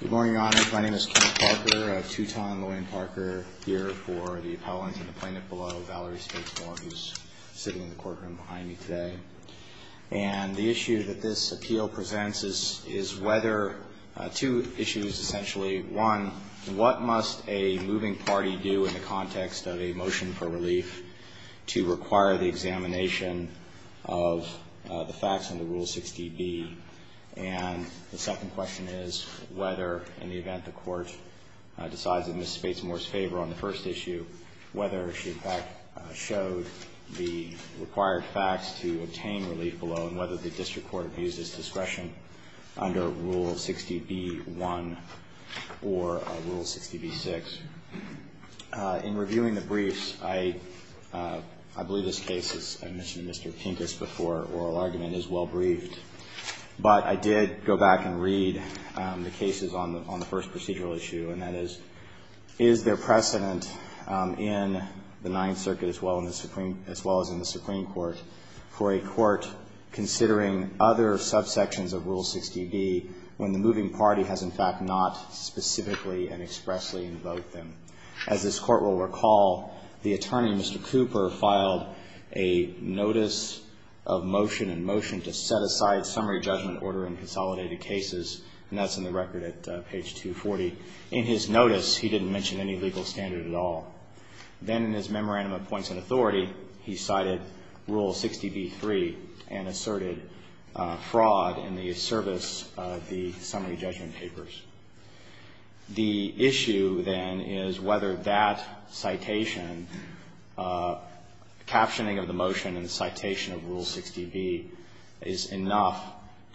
Good morning, Your Honors. My name is Kenneth Parker of Teuton-Lewin Parker, here for the appellant in the plaintiff below, Valerie Spates-Moore, who's sitting in the courtroom behind me today. And the issue that this appeal presents is whether – two issues, essentially. One, what must a moving party do in the context of a motion for relief to require the examination of the facts under Rule 60B? And the second question is whether, in the event the Court decides in Ms. Spates-Moore's favor on the first issue, whether she, in fact, showed the required facts to obtain relief below, and whether the district court views this discretion under Rule 60B-1 or Rule 60B-6. In reviewing the briefs, I believe this case, as I mentioned to Mr. Pintus before, oral argument is well briefed. But I did go back and read the cases on the first procedural issue, and that is, is there precedent in the Ninth Circuit as well as in the Supreme Court for a court considering other subsections of Rule 60B when the moving party has, in fact, not specifically and expressly invoked them? As this Court will recall, the attorney, Mr. Cooper, filed a notice of motion and motion to set aside summary judgment order in consolidated cases. And that's in the record at page 240. In his notice, he didn't mention any legal standard at all. Then in his memorandum of points of authority, he cited Rule 60B-3 and asserted fraud in the service of the summary judgment papers. The issue, then, is whether that citation, captioning of the motion and the citation of Rule 60B, is enough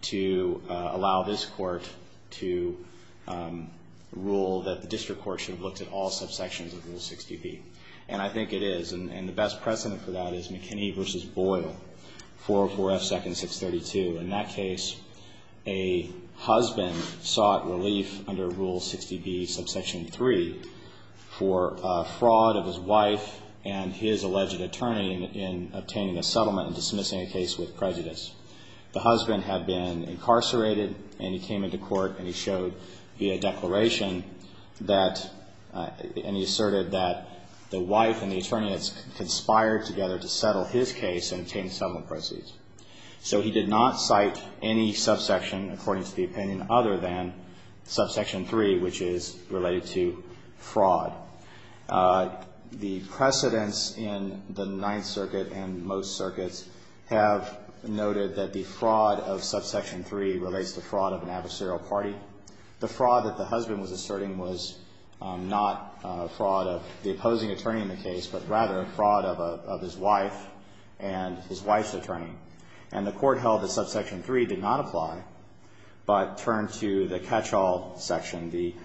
to allow this Court to rule that the district court should have looked at all subsections of Rule 60B. And I think it is. And the best precedent for that is McKinney v. Boyle, 404 F. 2nd, 632. In that case, a husband sought relief under Rule 60B, subsection 3, for fraud of his wife and his alleged attorney in obtaining a settlement and dismissing a case with prejudice. The husband had been incarcerated, and he came into court, and he showed via declaration that, and he asserted that the wife and the attorney had conspired together to settle his case and obtain settlement proceeds. So he did not cite any subsection, according to the opinion, other than subsection 3, which is related to fraud. The precedents in the Ninth Circuit and most circuits have noted that the fraud of subsection 3 relates to fraud of an adversarial party. The fraud that the husband was asserting was not fraud of the opposing attorney in the case, but rather fraud of his wife and his wife's attorney. And the court held that subsection 3 did not apply, but turned to the catch-all section, the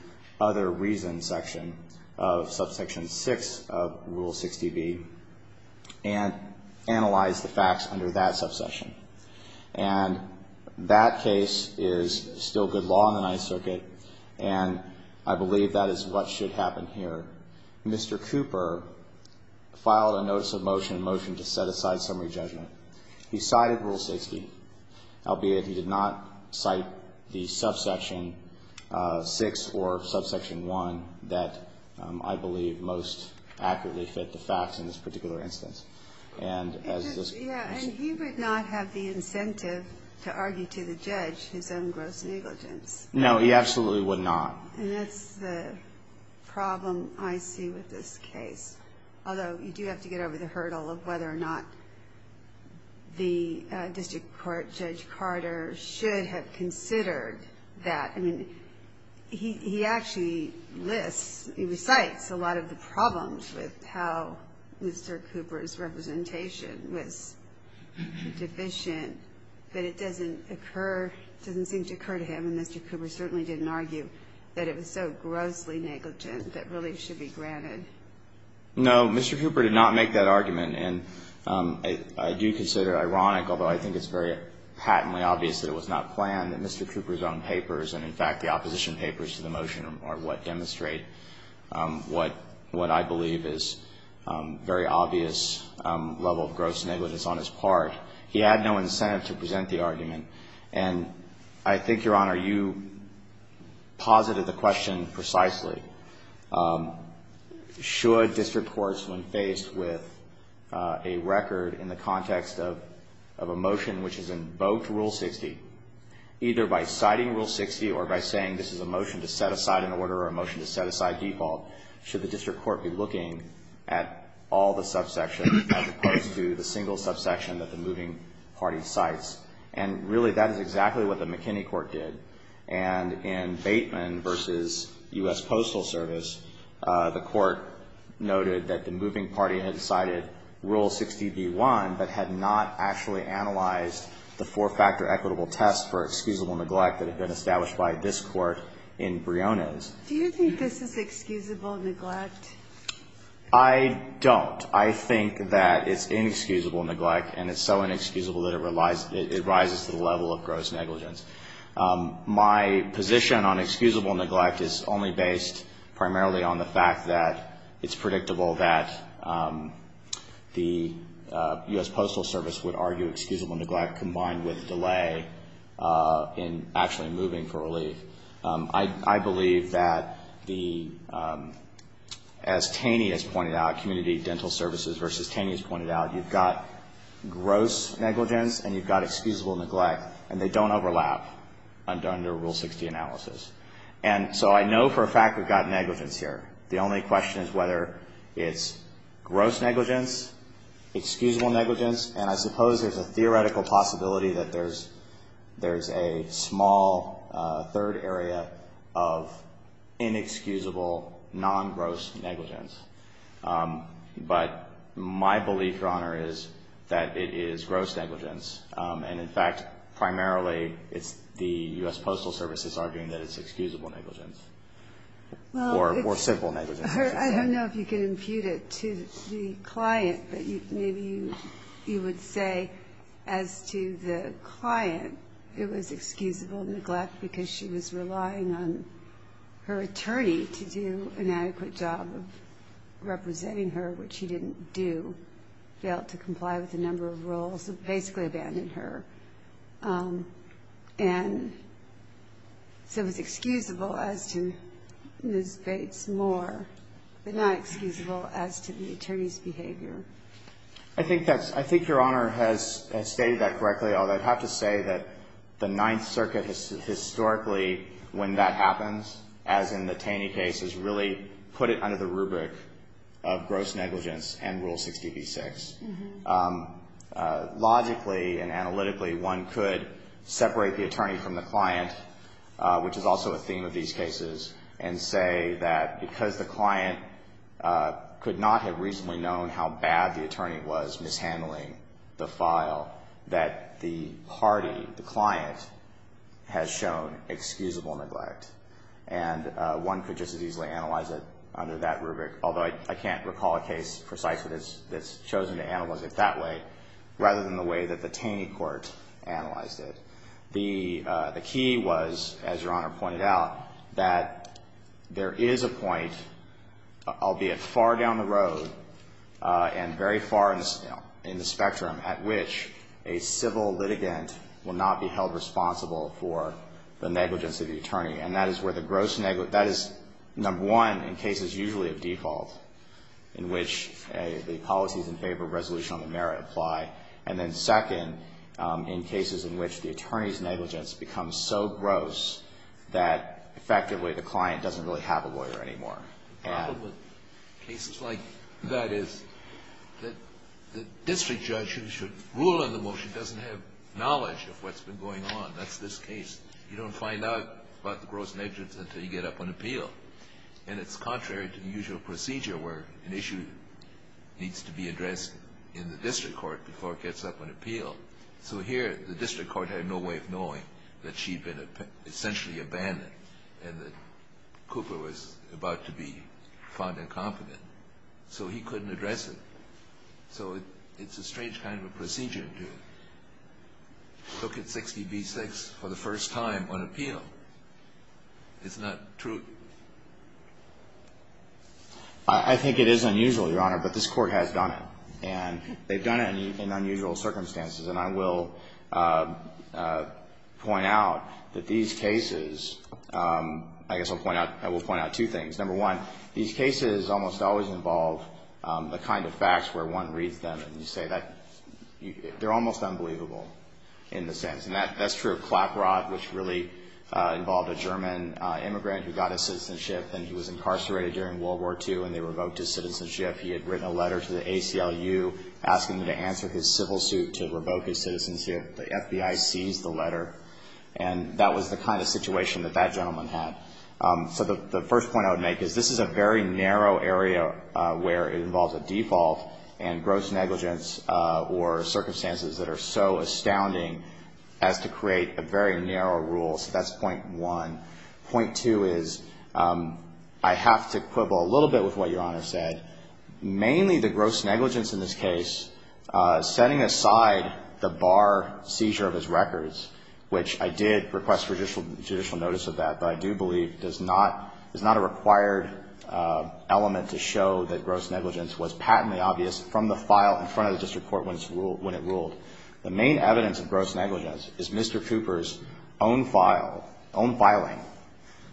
other reason section of subsection 6 of Rule 60B, and analyzed the facts under that subsection. And that case is still good law in the Ninth Circuit, and I believe that is what should happen here. Mr. Cooper filed a notice of motion, a motion to set aside summary judgment. He cited Rule 60, albeit he did not cite the subsection 6 or subsection 1 that I believe most accurately fit the facts in this particular instance. And as this question raises. Yeah, and he would not have the incentive to argue to the judge his own gross negligence. No, he absolutely would not. And that's the problem I see with this case. Although you do have to get over the hurdle of whether or not the district court, Judge Carter, should have considered that. I mean, he actually lists, he recites a lot of the problems with how Mr. Cooper's representation was deficient. But it doesn't occur, doesn't seem to occur to him, and Mr. Cooper certainly didn't argue that it was so grossly negligent that relief should be granted. No, Mr. Cooper did not make that argument. And I do consider it ironic, although I think it's very patently obvious that it was not planned, that Mr. Cooper's own papers, and in fact the opposition papers to the motion are what demonstrate what I believe is very obvious level of gross negligence on his part. He had no incentive to present the argument. And I think, Your Honor, you posited the question precisely. Should district courts, when faced with a record in the context of a motion which has invoked Rule 60, either by citing Rule 60 or by saying this is a motion to set aside an order or a motion to set aside default, should the district court be looking at all the subsections as opposed to the single subsection that the moving party cites? And really, that is exactly what the McKinney court did. And in Bateman v. U.S. Postal Service, the court noted that the moving party had cited Rule 60b-1 but had not actually analyzed the four-factor equitable test for excusable neglect that had been established by this court in Briones. Do you think this is excusable neglect? I don't. I think that it's inexcusable neglect, and it's so inexcusable that it rises to the level of gross negligence. My position on excusable neglect is only based primarily on the fact that it's predictable that the U.S. Postal Service would argue excusable neglect combined with delay in actually moving for relief. I believe that the, as Taney has pointed out, Community Dental Services v. Taney has pointed out, you've got gross negligence and you've got excusable neglect, and they don't overlap under Rule 60 analysis. And so I know for a fact we've got negligence here. The only question is whether it's gross negligence, excusable negligence, and I suppose there's a theoretical possibility that there's a small third area of inexcusable non-gross negligence. But my belief, Your Honor, is that it is gross negligence. And, in fact, primarily it's the U.S. Postal Service that's arguing that it's excusable negligence or simple negligence. I don't know if you can impute it to the client, but maybe you would say as to the client, it was excusable neglect because she was relying on her attorney to do an adequate job of representing her, which he didn't do, failed to comply with a number of rules, basically abandoned her. And so it was excusable as to Ms. Bates more, but not excusable as to the attorney's behavior. I think that's – I think Your Honor has stated that correctly, although I'd have to say that the Ninth Circuit historically, when that happens, as in the Taney case, has really put it under the rubric of gross negligence and Rule 60b-6. Logically and analytically, one could separate the attorney from the client, which is also a theme of these cases, and say that because the client could not have reasonably known how bad the attorney was mishandling the file, that the party, the client, has shown excusable neglect. And one could just as easily analyze it under that rubric, although I can't recall a case precisely that's chosen to analyze it that way, rather than the way that the Taney court analyzed it. The key was, as Your Honor pointed out, that there is a point, albeit far down the road and very far in the spectrum, at which a civil litigant will not be held responsible for the negligence of the attorney. And that is where the gross negligence, that is number one in cases usually of default, in which the policies in favor of resolution on the merit apply. And then second, in cases in which the attorney's negligence becomes so gross that effectively the client doesn't really have a lawyer anymore. The problem with cases like that is that the district judge who should rule on the motion doesn't have knowledge of what's been going on. That's this case. You don't find out about the gross negligence until you get up on appeal. And it's contrary to the usual procedure where an issue needs to be addressed in the district court before it gets up on appeal. So here, the district court had no way of knowing that she'd been essentially abandoned and that Cooper was about to be found incompetent. So he couldn't address it. So it's a strange kind of a procedure to look at 60 v. 6 for the first time on appeal. Isn't that true? I think it is unusual, Your Honor, but this Court has done it. And they've done it in unusual circumstances. And I will point out that these cases, I guess I'll point out, I will point out two things. Number one, these cases almost always involve the kind of facts where one reads them and you say that they're almost unbelievable in the sense. And that's true of Clackrod, which really involved a German immigrant who got his citizenship and he was incarcerated during World War II and they revoked his citizenship. He had written a letter to the ACLU asking them to answer his civil suit to revoke his citizenship. The FBI seized the letter. And that was the kind of situation that that gentleman had. So the first point I would make is this is a very narrow area where it involves a default and gross negligence or circumstances that are so astounding as to create a very narrow rule. So that's point one. Point two is I have to quibble a little bit with what Your Honor said. Mainly the gross negligence in this case, setting aside the bar seizure of his records, which I did request judicial notice of that, but I do believe is not a required element to show that gross negligence was patently obvious from the file in front of the district court when it ruled. The main evidence of gross negligence is Mr. Cooper's own file, own filing.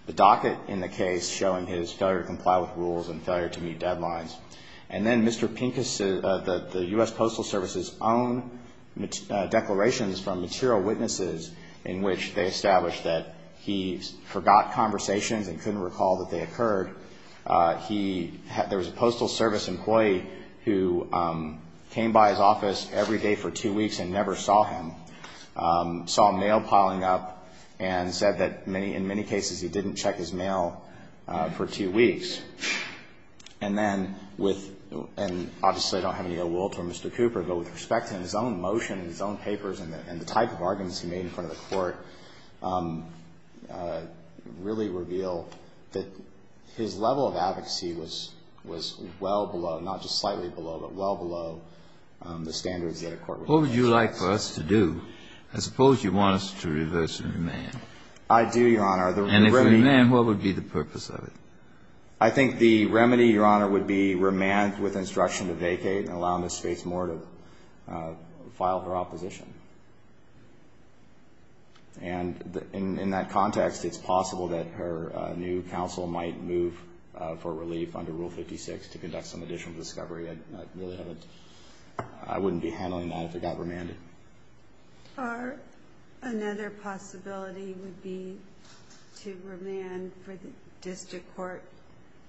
The docket in the case showing his failure to comply with rules and failure to meet deadlines. And then Mr. Pincus, the U.S. Postal Service's own declarations from material witnesses in which they established that he forgot conversations and couldn't recall that they occurred. There was a Postal Service employee who came by his office every day for two weeks and never saw him, saw mail piling up and said that in many cases he didn't check his mail for two weeks. And then with – and obviously I don't have any ill will toward Mr. Cooper, but with respect to his own motion, his own papers and the type of arguments he made in front of the Court, really reveal that his level of advocacy was well below, not just slightly below, but well below the standards that a court would expect. Kennedy, what would you like for us to do? I suppose you want us to reverse and remand. I do, Your Honor. And if we remand, what would be the purpose of it? I think the remedy, Your Honor, would be remand with instruction to vacate and allow Ms. Spates more to file her opposition. And in that context, it's possible that her new counsel might move for relief under Rule 56 to conduct some additional discovery. I really haven't – I wouldn't be handling that if it got remanded. Or another possibility would be to remand for the district court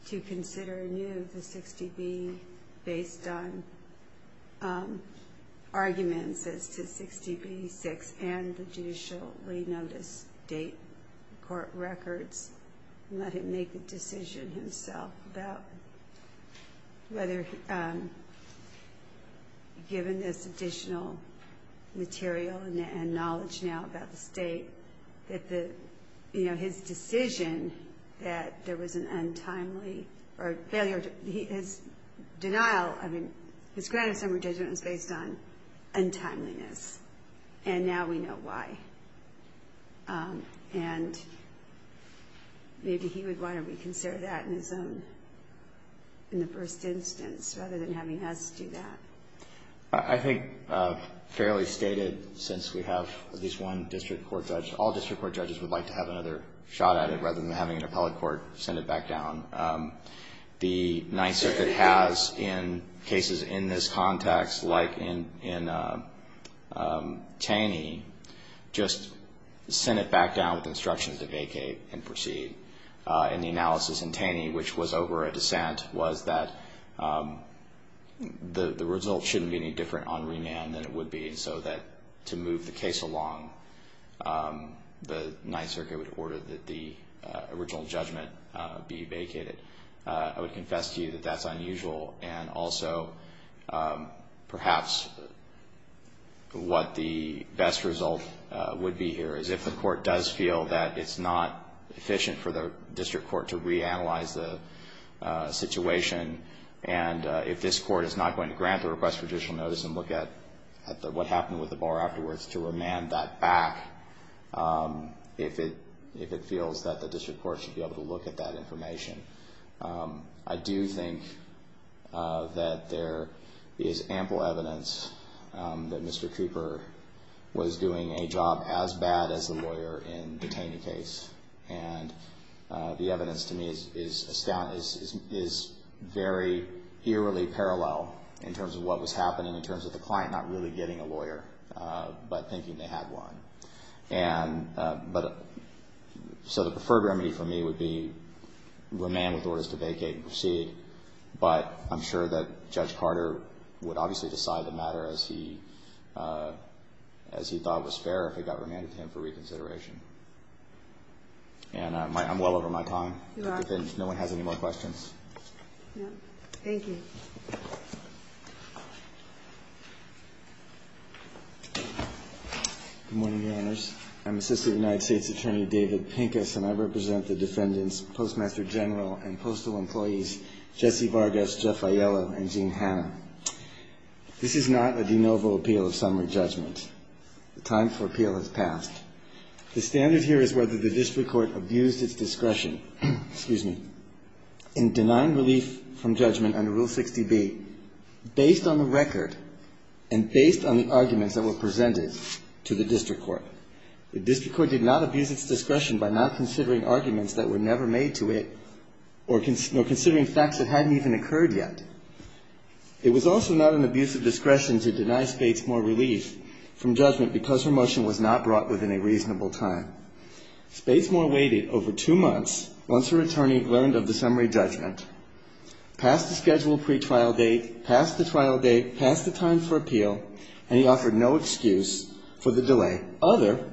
to consider anew the 60B based on arguments as to 60B-6 and the judicially noticed date, court records, and let him make the decision himself about whether, given this additional material and knowledge now about the state, that the – you know, his decision that there was an untimely or a failure – his denial – I mean, his granted summary judgment was based on untimeliness. And now we know why. And maybe he would want to reconsider that in his own – in the first instance rather than having us do that. I think fairly stated, since we have at least one district court judge, all district court judges would like to have another shot at it rather than having an appellate court send it back down. The Ninth Circuit has in cases in this context, like in Taney, just sent it back down with instructions to vacate and proceed. And the analysis in Taney, which was over a dissent, was that the result shouldn't be any different on remand than it would be. So that to move the case along, the Ninth Circuit would order that the original judgment be vacated. I would confess to you that that's unusual and also perhaps what the best result would be here is if the court does feel that it's not efficient for the district court to reanalyze the situation and if this court is not going to grant the request for judicial notice and look at what happened with the bar afterwards to remand that back, if it feels that the district court should be able to look at that information. I do think that there is ample evidence that Mr. Cooper was doing a job as bad as the lawyer in the Taney case. And the evidence to me is very eerily parallel in terms of what was happening, in terms of the client not really getting a lawyer but thinking they had one. So the preferred remedy for me would be remand with orders to vacate and proceed. But I'm sure that Judge Carter would obviously decide the matter as he thought was fair if it got remanded to him for reconsideration. And I'm well over my time. If no one has any more questions. Thank you. Good morning, Your Honors. I'm Assistant United States Attorney David Pincus, and I represent the defendants Postmaster General and Postal Employees Jesse Vargas, Jeff Aiello, and Gene Hanna. This is not a de novo appeal of summary judgment. The time for appeal has passed. The standard here is whether the district court abused its discretion, excuse me, in denying relief from judgment under Rule 60B based on the record and based on the arguments that were presented to the district court. The district court did not abuse its discretion by not considering arguments that were never made to it or considering facts that hadn't even occurred yet. It was also not an abuse of discretion to deny Spates Moore relief from judgment because her motion was not brought within a reasonable time. Spates Moore waited over two months once her attorney learned of the summary judgment, passed the scheduled pretrial date, passed the trial date, passed the time for appeal, and he offered no excuse for the delay other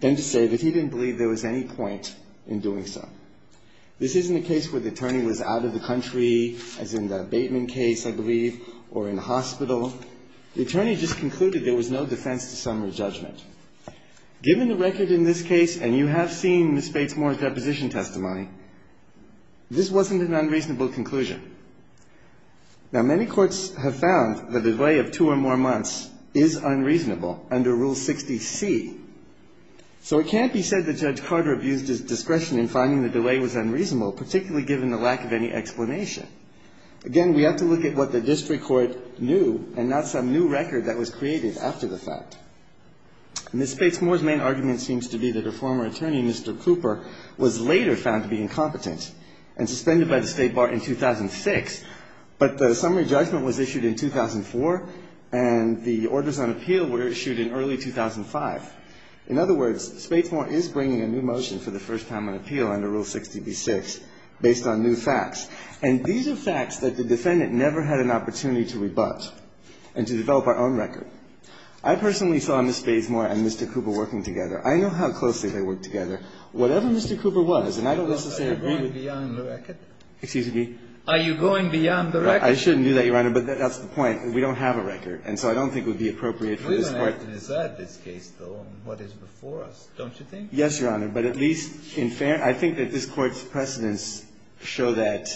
than to say that he didn't believe there was any point in doing so. This isn't a case where the attorney was out of the country, as in the Bateman case, I believe, or in hospital. The attorney just concluded there was no defense to summary judgment. Given the record in this case, and you have seen Ms. Spates Moore's deposition testimony, this wasn't an unreasonable conclusion. Now, many courts have found the delay of two or more months is unreasonable under Rule 60C. So it can't be said that Judge Carter abused his discretion in finding the delay was unreasonable, particularly given the lack of any explanation. Again, we have to look at what the district court knew and not some new record that was created after the fact. Ms. Spates Moore's main argument seems to be that her former attorney, Mr. Cooper, was later found to be incompetent and suspended by the State Bar in 2006, but the summary judgment was issued in 2004, and the orders on appeal were issued in early 2005. In other words, Spates Moore is bringing a new motion for the first time on appeal under Rule 60B-6 based on new facts. And these are facts that the defendant never had an opportunity to rebut and to develop our own record. I personally saw Ms. Spates Moore and Mr. Cooper working together. I know how closely they worked together. Whatever Mr. Cooper was, and I don't necessarily agree with you. Are you going beyond the record? Excuse me? Are you going beyond the record? I shouldn't do that, Your Honor, but that's the point. We don't have a record, and so I don't think it would be appropriate for this Court to do that. We don't have to decide this case, though, on what is before us, don't you think? Yes, Your Honor. But at least in fairness, I think that this Court's precedents show that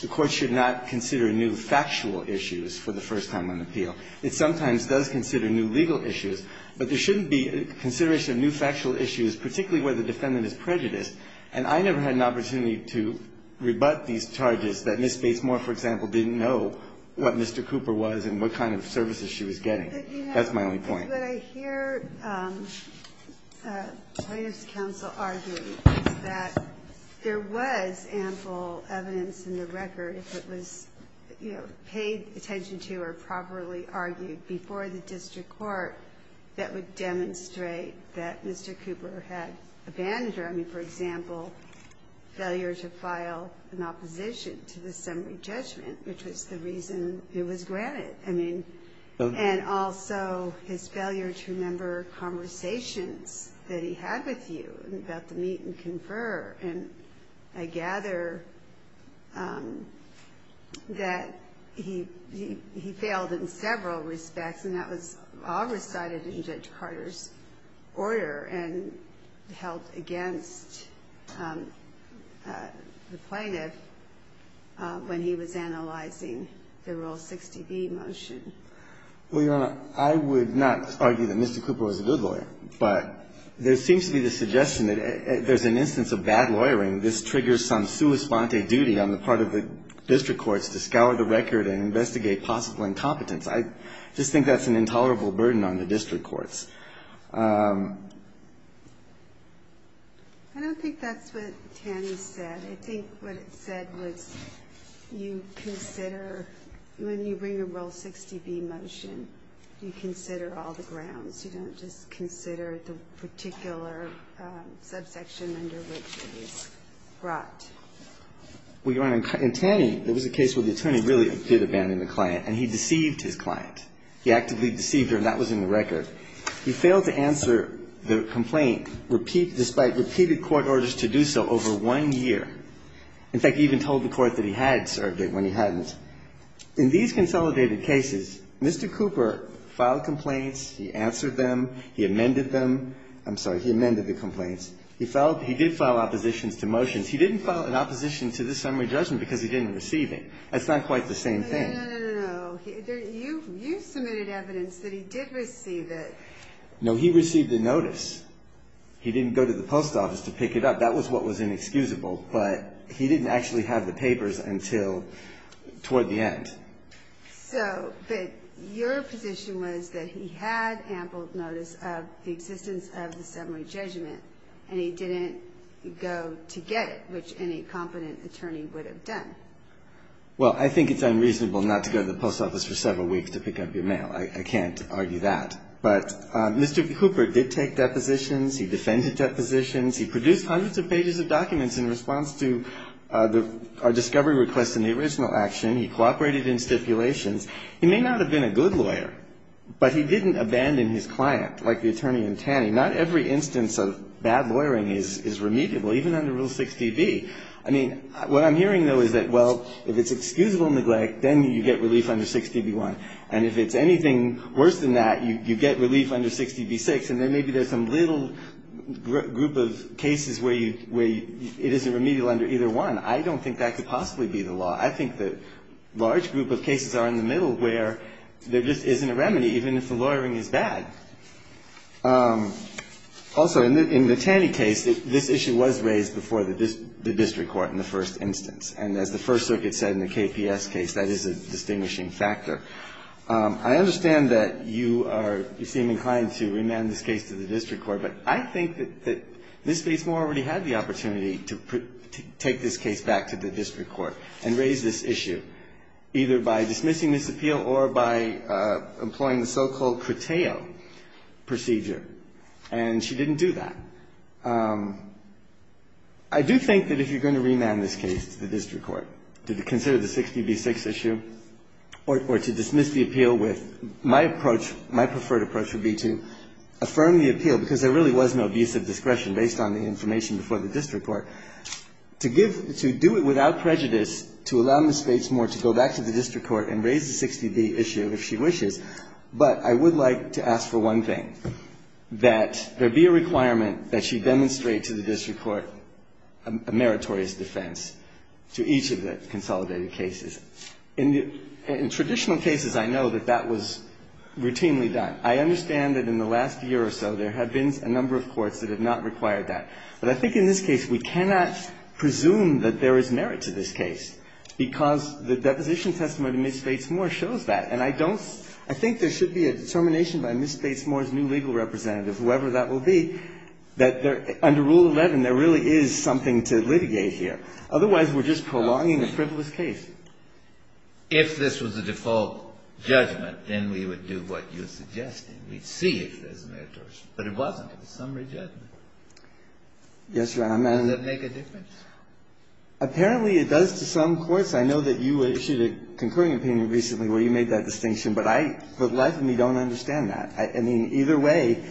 the Court should not consider new factual issues for the first time on appeal. It sometimes does consider new legal issues, but there shouldn't be consideration of new factual issues, particularly where the defendant is prejudiced. And I never had an opportunity to rebut these charges that Ms. Spates Moore, for example, didn't know what Mr. Cooper was and what kind of services she was getting. That's my only point. But I hear plaintiff's counsel argue that there was ample evidence in the record if it was, you know, paid attention to or properly argued before the district court that would demonstrate that Mr. Cooper had abandoned her. I mean, for example, failure to file an opposition to the summary judgment, which was the reason it was granted. I mean, and also his failure to remember conversations that he had with you about the meet and confer. And I gather that he failed in several respects, and that was all recited in Judge Carter's order and held against the plaintiff when he was analyzing the Rule 60B motion. Well, Your Honor, I would not argue that Mr. Cooper was a good lawyer, but there seems to be the suggestion that there's an instance of bad lawyering. This triggers some sua sponte duty on the part of the district courts to scour the record and investigate possible incompetence. I just think that's an intolerable burden on the district courts. I don't think that's what Tanny said. I think what it said was you consider, when you bring a Rule 60B motion, you consider all the grounds. You don't just consider the particular subsection under which it was brought. Well, Your Honor, in Tanny, there was a case where the attorney really did abandon the client, and he deceived his client. He actively deceived her, and that was in the record. He failed to answer the complaint despite repeated court orders to do so over one year. In fact, he even told the court that he had served it when he hadn't. In these consolidated cases, Mr. Cooper filed complaints. He answered them. He amended them. I'm sorry. He amended the complaints. He did file oppositions to motions. He didn't file an opposition to this summary judgment because he didn't receive That's not quite the same thing. No, no, no, no, no. You submitted evidence that he did receive it. No, he received the notice. He didn't go to the post office to pick it up. That was what was inexcusable, but he didn't actually have the papers until toward the end. But your position was that he had ample notice of the existence of the summary judgment, and he didn't go to get it, which any competent attorney would have done. Well, I think it's unreasonable not to go to the post office for several weeks to pick up your mail. I can't argue that. But Mr. Cooper did take depositions. He defended depositions. He produced hundreds of pages of documents in response to our discovery request in the original action. He cooperated in stipulations. He may not have been a good lawyer, but he didn't abandon his client like the attorney in Taney. Not every instance of bad lawyering is remediable, even under Rule 6dB. I mean, what I'm hearing, though, is that, well, if it's excusable neglect, then you get relief under 6dB1. And if it's anything worse than that, you get relief under 6dB6, and then maybe there's some little group of cases where you — where it isn't remedial under either one. I don't think that could possibly be the law. I think the large group of cases are in the middle where there just isn't a remedy, even if the lawyering is bad. Also, in the Taney case, this issue was raised before the district court in the first instance. And as the First Circuit said in the KPS case, that is a distinguishing factor. I understand that you are — you seem inclined to remand this case to the district court, but I think that Ms. Batesmore already had the opportunity to take this case back to the district court and raise this issue, either by dismissing this appeal or by employing the so-called Croteo procedure. And she didn't do that. I do think that if you're going to remand this case to the district court to consider the 6dB6 issue or to dismiss the appeal with — my approach, my preferred approach would be to affirm the appeal, because there really was no abuse of discretion based on the information before the district court, to give — to do it without prejudice to allow Ms. Batesmore to go back to the district court and raise the 6dB issue if she wishes. But I would like to ask for one thing, that there be a requirement that she demonstrate to the district court a meritorious defense to each of the consolidated cases. In traditional cases, I know that that was routinely done. I understand that in the last year or so, there have been a number of courts that have not required that. But I think in this case, we cannot presume that there is merit to this case, because the deposition testimony to Ms. Batesmore shows that. And I don't — I think there should be a determination by Ms. Batesmore's new legal representative, whoever that will be, that there — under Rule 11, there really is something to litigate here. Otherwise, we're just prolonging a frivolous case. Breyer. If this was a default judgment, then we would do what you're suggesting. We'd see if there's merit or — but it wasn't. It was summary judgment. Yes, Your Honor. Does that make a difference? Apparently, it does to some courts. I know that you issued a concurring opinion recently where you made that distinction. But I — but the life of me don't understand that. I mean, either way,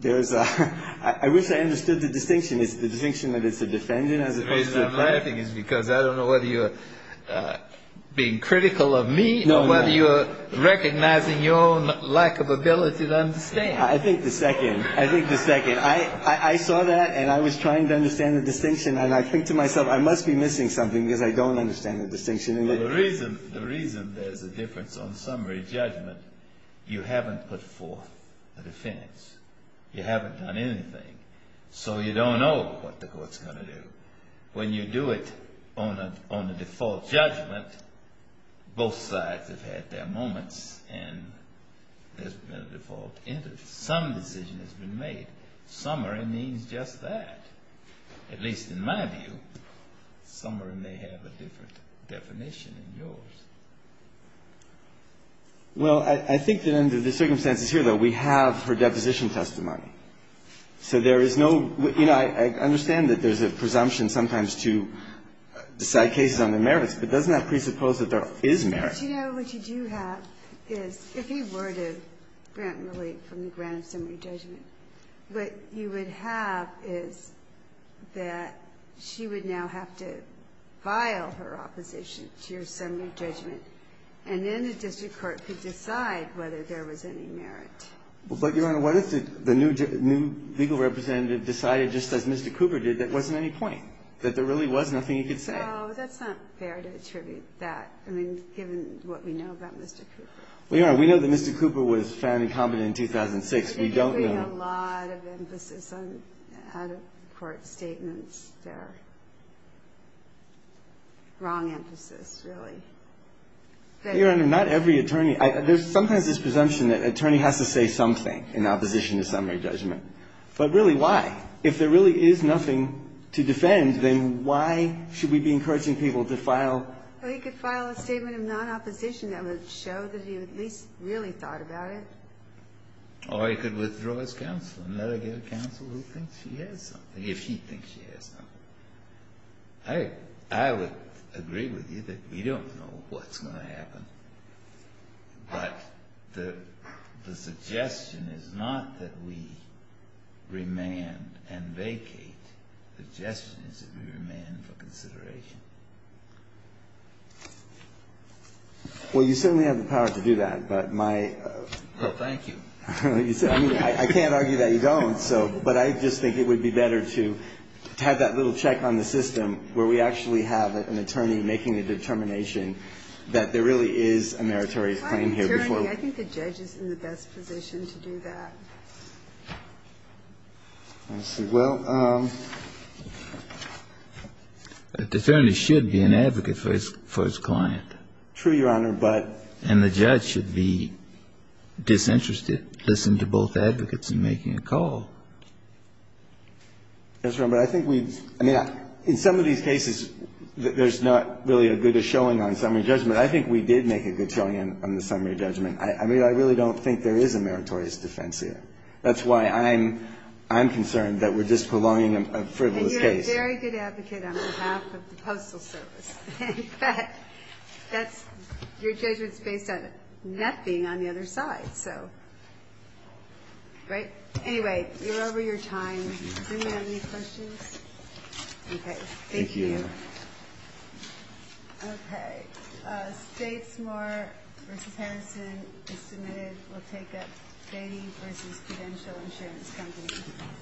there's a — I wish I understood the distinction. Is the distinction that it's a defendant as opposed to a defendant? The reason I'm laughing is because I don't know whether you're being critical of me or whether you're recognizing your own lack of ability to understand. I think the second. I think the second. I saw that, and I was trying to understand the distinction, and I think to myself, I must be missing something because I don't understand the distinction. The reason there's a difference on summary judgment, you haven't put forth a defense. You haven't done anything. So you don't know what the court's going to do. When you do it on a default judgment, both sides have had their moments, and there's been a default interest. Some decision has been made. Summary means just that. At least in my view, summary may have a different definition than yours. Well, I think that under the circumstances here, though, we have her deposition testimony. So there is no — you know, I understand that there's a presumption sometimes to decide cases on their merits, but doesn't that presuppose that there is merit? But, you know, what you do have is if he were to grant relief from the grant of summary judgment, what you would have is that she would now have to file her opposition to your summary judgment, and then the district court could decide whether there was any merit. But, Your Honor, what if the new legal representative decided just as Mr. Cooper did that there wasn't any point, that there really was nothing he could say? No, that's not fair to attribute that. I mean, given what we know about Mr. Cooper. Well, Your Honor, we know that Mr. Cooper was found incompetent in 2006. We don't know. They're giving a lot of emphasis on out-of-court statements. They're wrong emphasis, really. Your Honor, not every attorney — there's sometimes this presumption that an attorney has to say something in opposition to summary judgment. But really, why? If there really is nothing to defend, then why should we be encouraging people to file — Well, he could file a statement of non-opposition that would show that he at least really thought about it. Or he could withdraw his counsel and let her get a counsel who thinks she has something, if she thinks she has something. I would agree with you that we don't know what's going to happen. But the suggestion is not that we remand and vacate. The suggestion is that we remand for consideration. Well, you certainly have the power to do that. Well, thank you. I can't argue that you don't. But I just think it would be better to have that little check on the system where we actually have an attorney making a determination that there really is a meritorious claim here before we do that. Attorney, I think the judge is in the best position to do that. Well, the attorney should be an advocate for his client. True, Your Honor, but the judge should be disinterested, listen to both advocates in making a call. That's right. But I think we've, I mean, in some of these cases, there's not really a good showing on summary judgment. I think we did make a good showing on the summary judgment. I mean, I really don't think there is a meritorious defense here. That's why I'm concerned that we're just prolonging a frivolous case. And you're a very good advocate on behalf of the Postal Service. But that's, your judgment is based on nothing on the other side. Right? Anyway, you're over your time. Does anyone have any questions? Okay. Thank you. Thank you. Okay. Statesmore v. Harrison is submitted. We'll take up Beatty v. Credential Insurance Company.